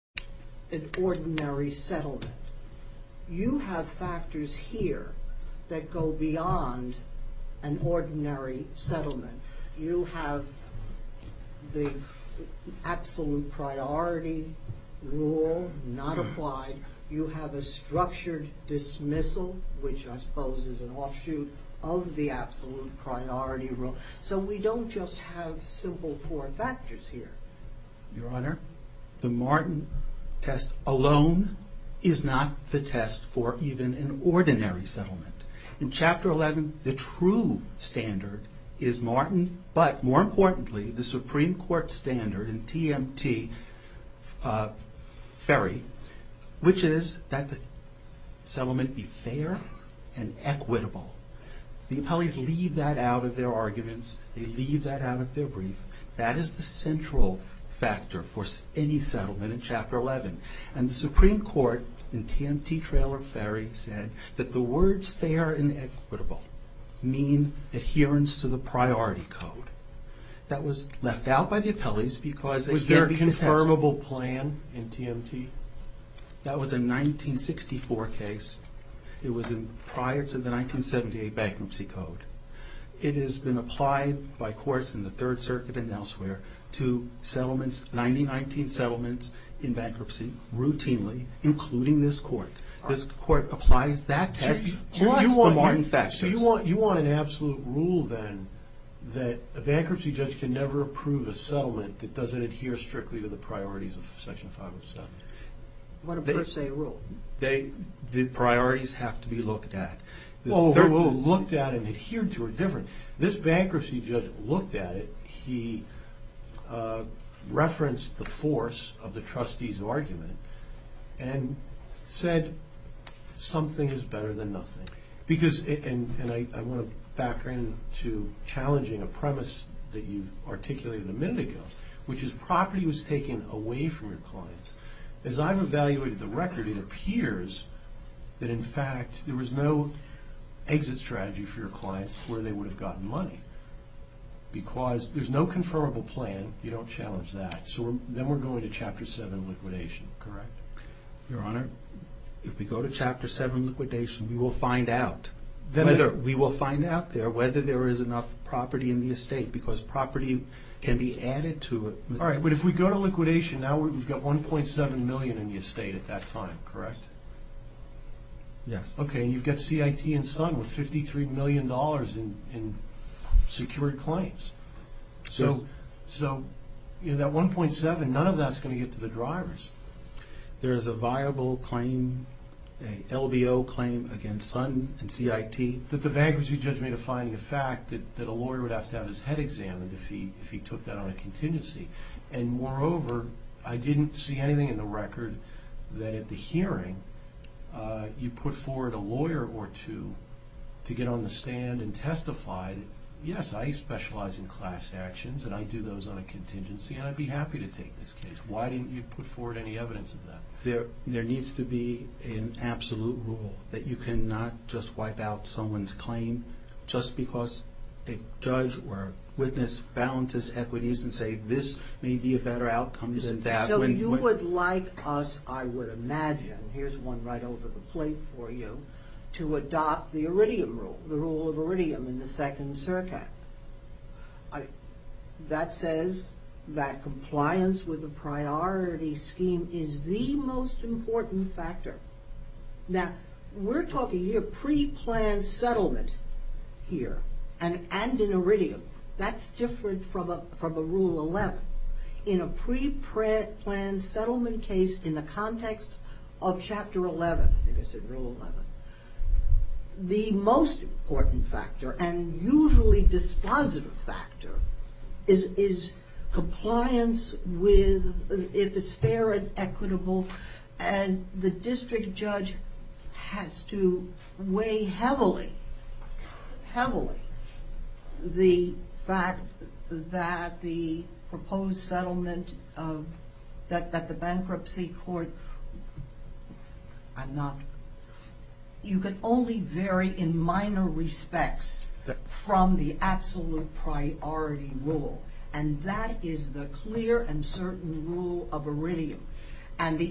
an ordinary settlement. You have factors here that go beyond an ordinary settlement. You have the absolute priority rule not applied. You have a structured dismissal, which I suppose is an offshoot of the absolute priority rule. So we don't just have simple four factors here. Your Honor, the Martin test alone is not the test for even an ordinary settlement. In Chapter 11, the true standard is Martin, but more importantly, the Supreme Court standard in TMT, Ferry, which is that the settlement be fair and equitable. The applicants, they leave that out of their brief. That is the central factor for any settlement in Chapter 11. And the Supreme Court in TMT, Trail, or Ferry said that the words fair and equitable mean adherence to the priority code. That was left out by the appellees because they can't be contentious. Was there a confirmable plan in TMT? That was a 1964 case. It was prior to the Third Circuit and elsewhere to 9019 settlements in bankruptcy routinely, including this Court. This Court applies that test plus the Martin factors. So you want an absolute rule then that a bankruptcy judge can never approve a settlement that doesn't adhere strictly to the priorities of Section 507? What a per se rule. The priorities have to be looked at. Looked at and adhered to are different. This bankruptcy judge looked at it, he referenced the force of the trustee's argument and said something is better than nothing. Because, and I want to back into challenging a premise that you articulated a minute ago, which is property was taken away from your that in fact there was no exit strategy for your clients where they would have gotten money. Because there's no confirmable plan, you don't challenge that. So then we're going to Chapter 7 liquidation, correct? Your Honor, if we go to Chapter 7 liquidation, we will find out. We will find out there whether there is enough property in the estate because property can be added to it. All right, but if we go to liquidation, now we've got 1.7 million in the estate at that time, correct? Yes. Okay, you've got CIT and SON with 53 million dollars in secured claims. So that 1.7, none of that's going to get to the drivers. There is a viable claim, an LBO claim against SON and CIT. That the bankruptcy judge made a finding of fact that a lawyer would have to have his head examined if he took that on a contingency. And moreover, I didn't see anything in the record that at the hearing you put forward a lawyer or two to get on the stand and testify, yes, I specialize in class actions and I do those on a contingency and I'd be happy to take this case. Why didn't you put forward any evidence of that? There needs to be an absolute rule that you cannot just wipe out someone's claim just because a judge or witness balances equities and say this may be a better outcome than that. So you would like us, I would imagine, here's one right over the plate for you, to adopt the Iridium rule, the rule of Iridium in the second CERCAC. That says that compliance with the priority scheme is the most important factor. Now, we're talking here pre-planned settlement here and in Iridium. That's different from a Rule 11. In a pre-planned settlement case in the context of Chapter 11, the most important factor and usually dispositive factor is compliance with, if it's fair and equitable and the district judge has to heavily, heavily, the fact that the proposed settlement of, that the bankruptcy court, I'm not, you can only vary in minor respects from the absolute priority rule. And that is the clear and certain rule of Iridium.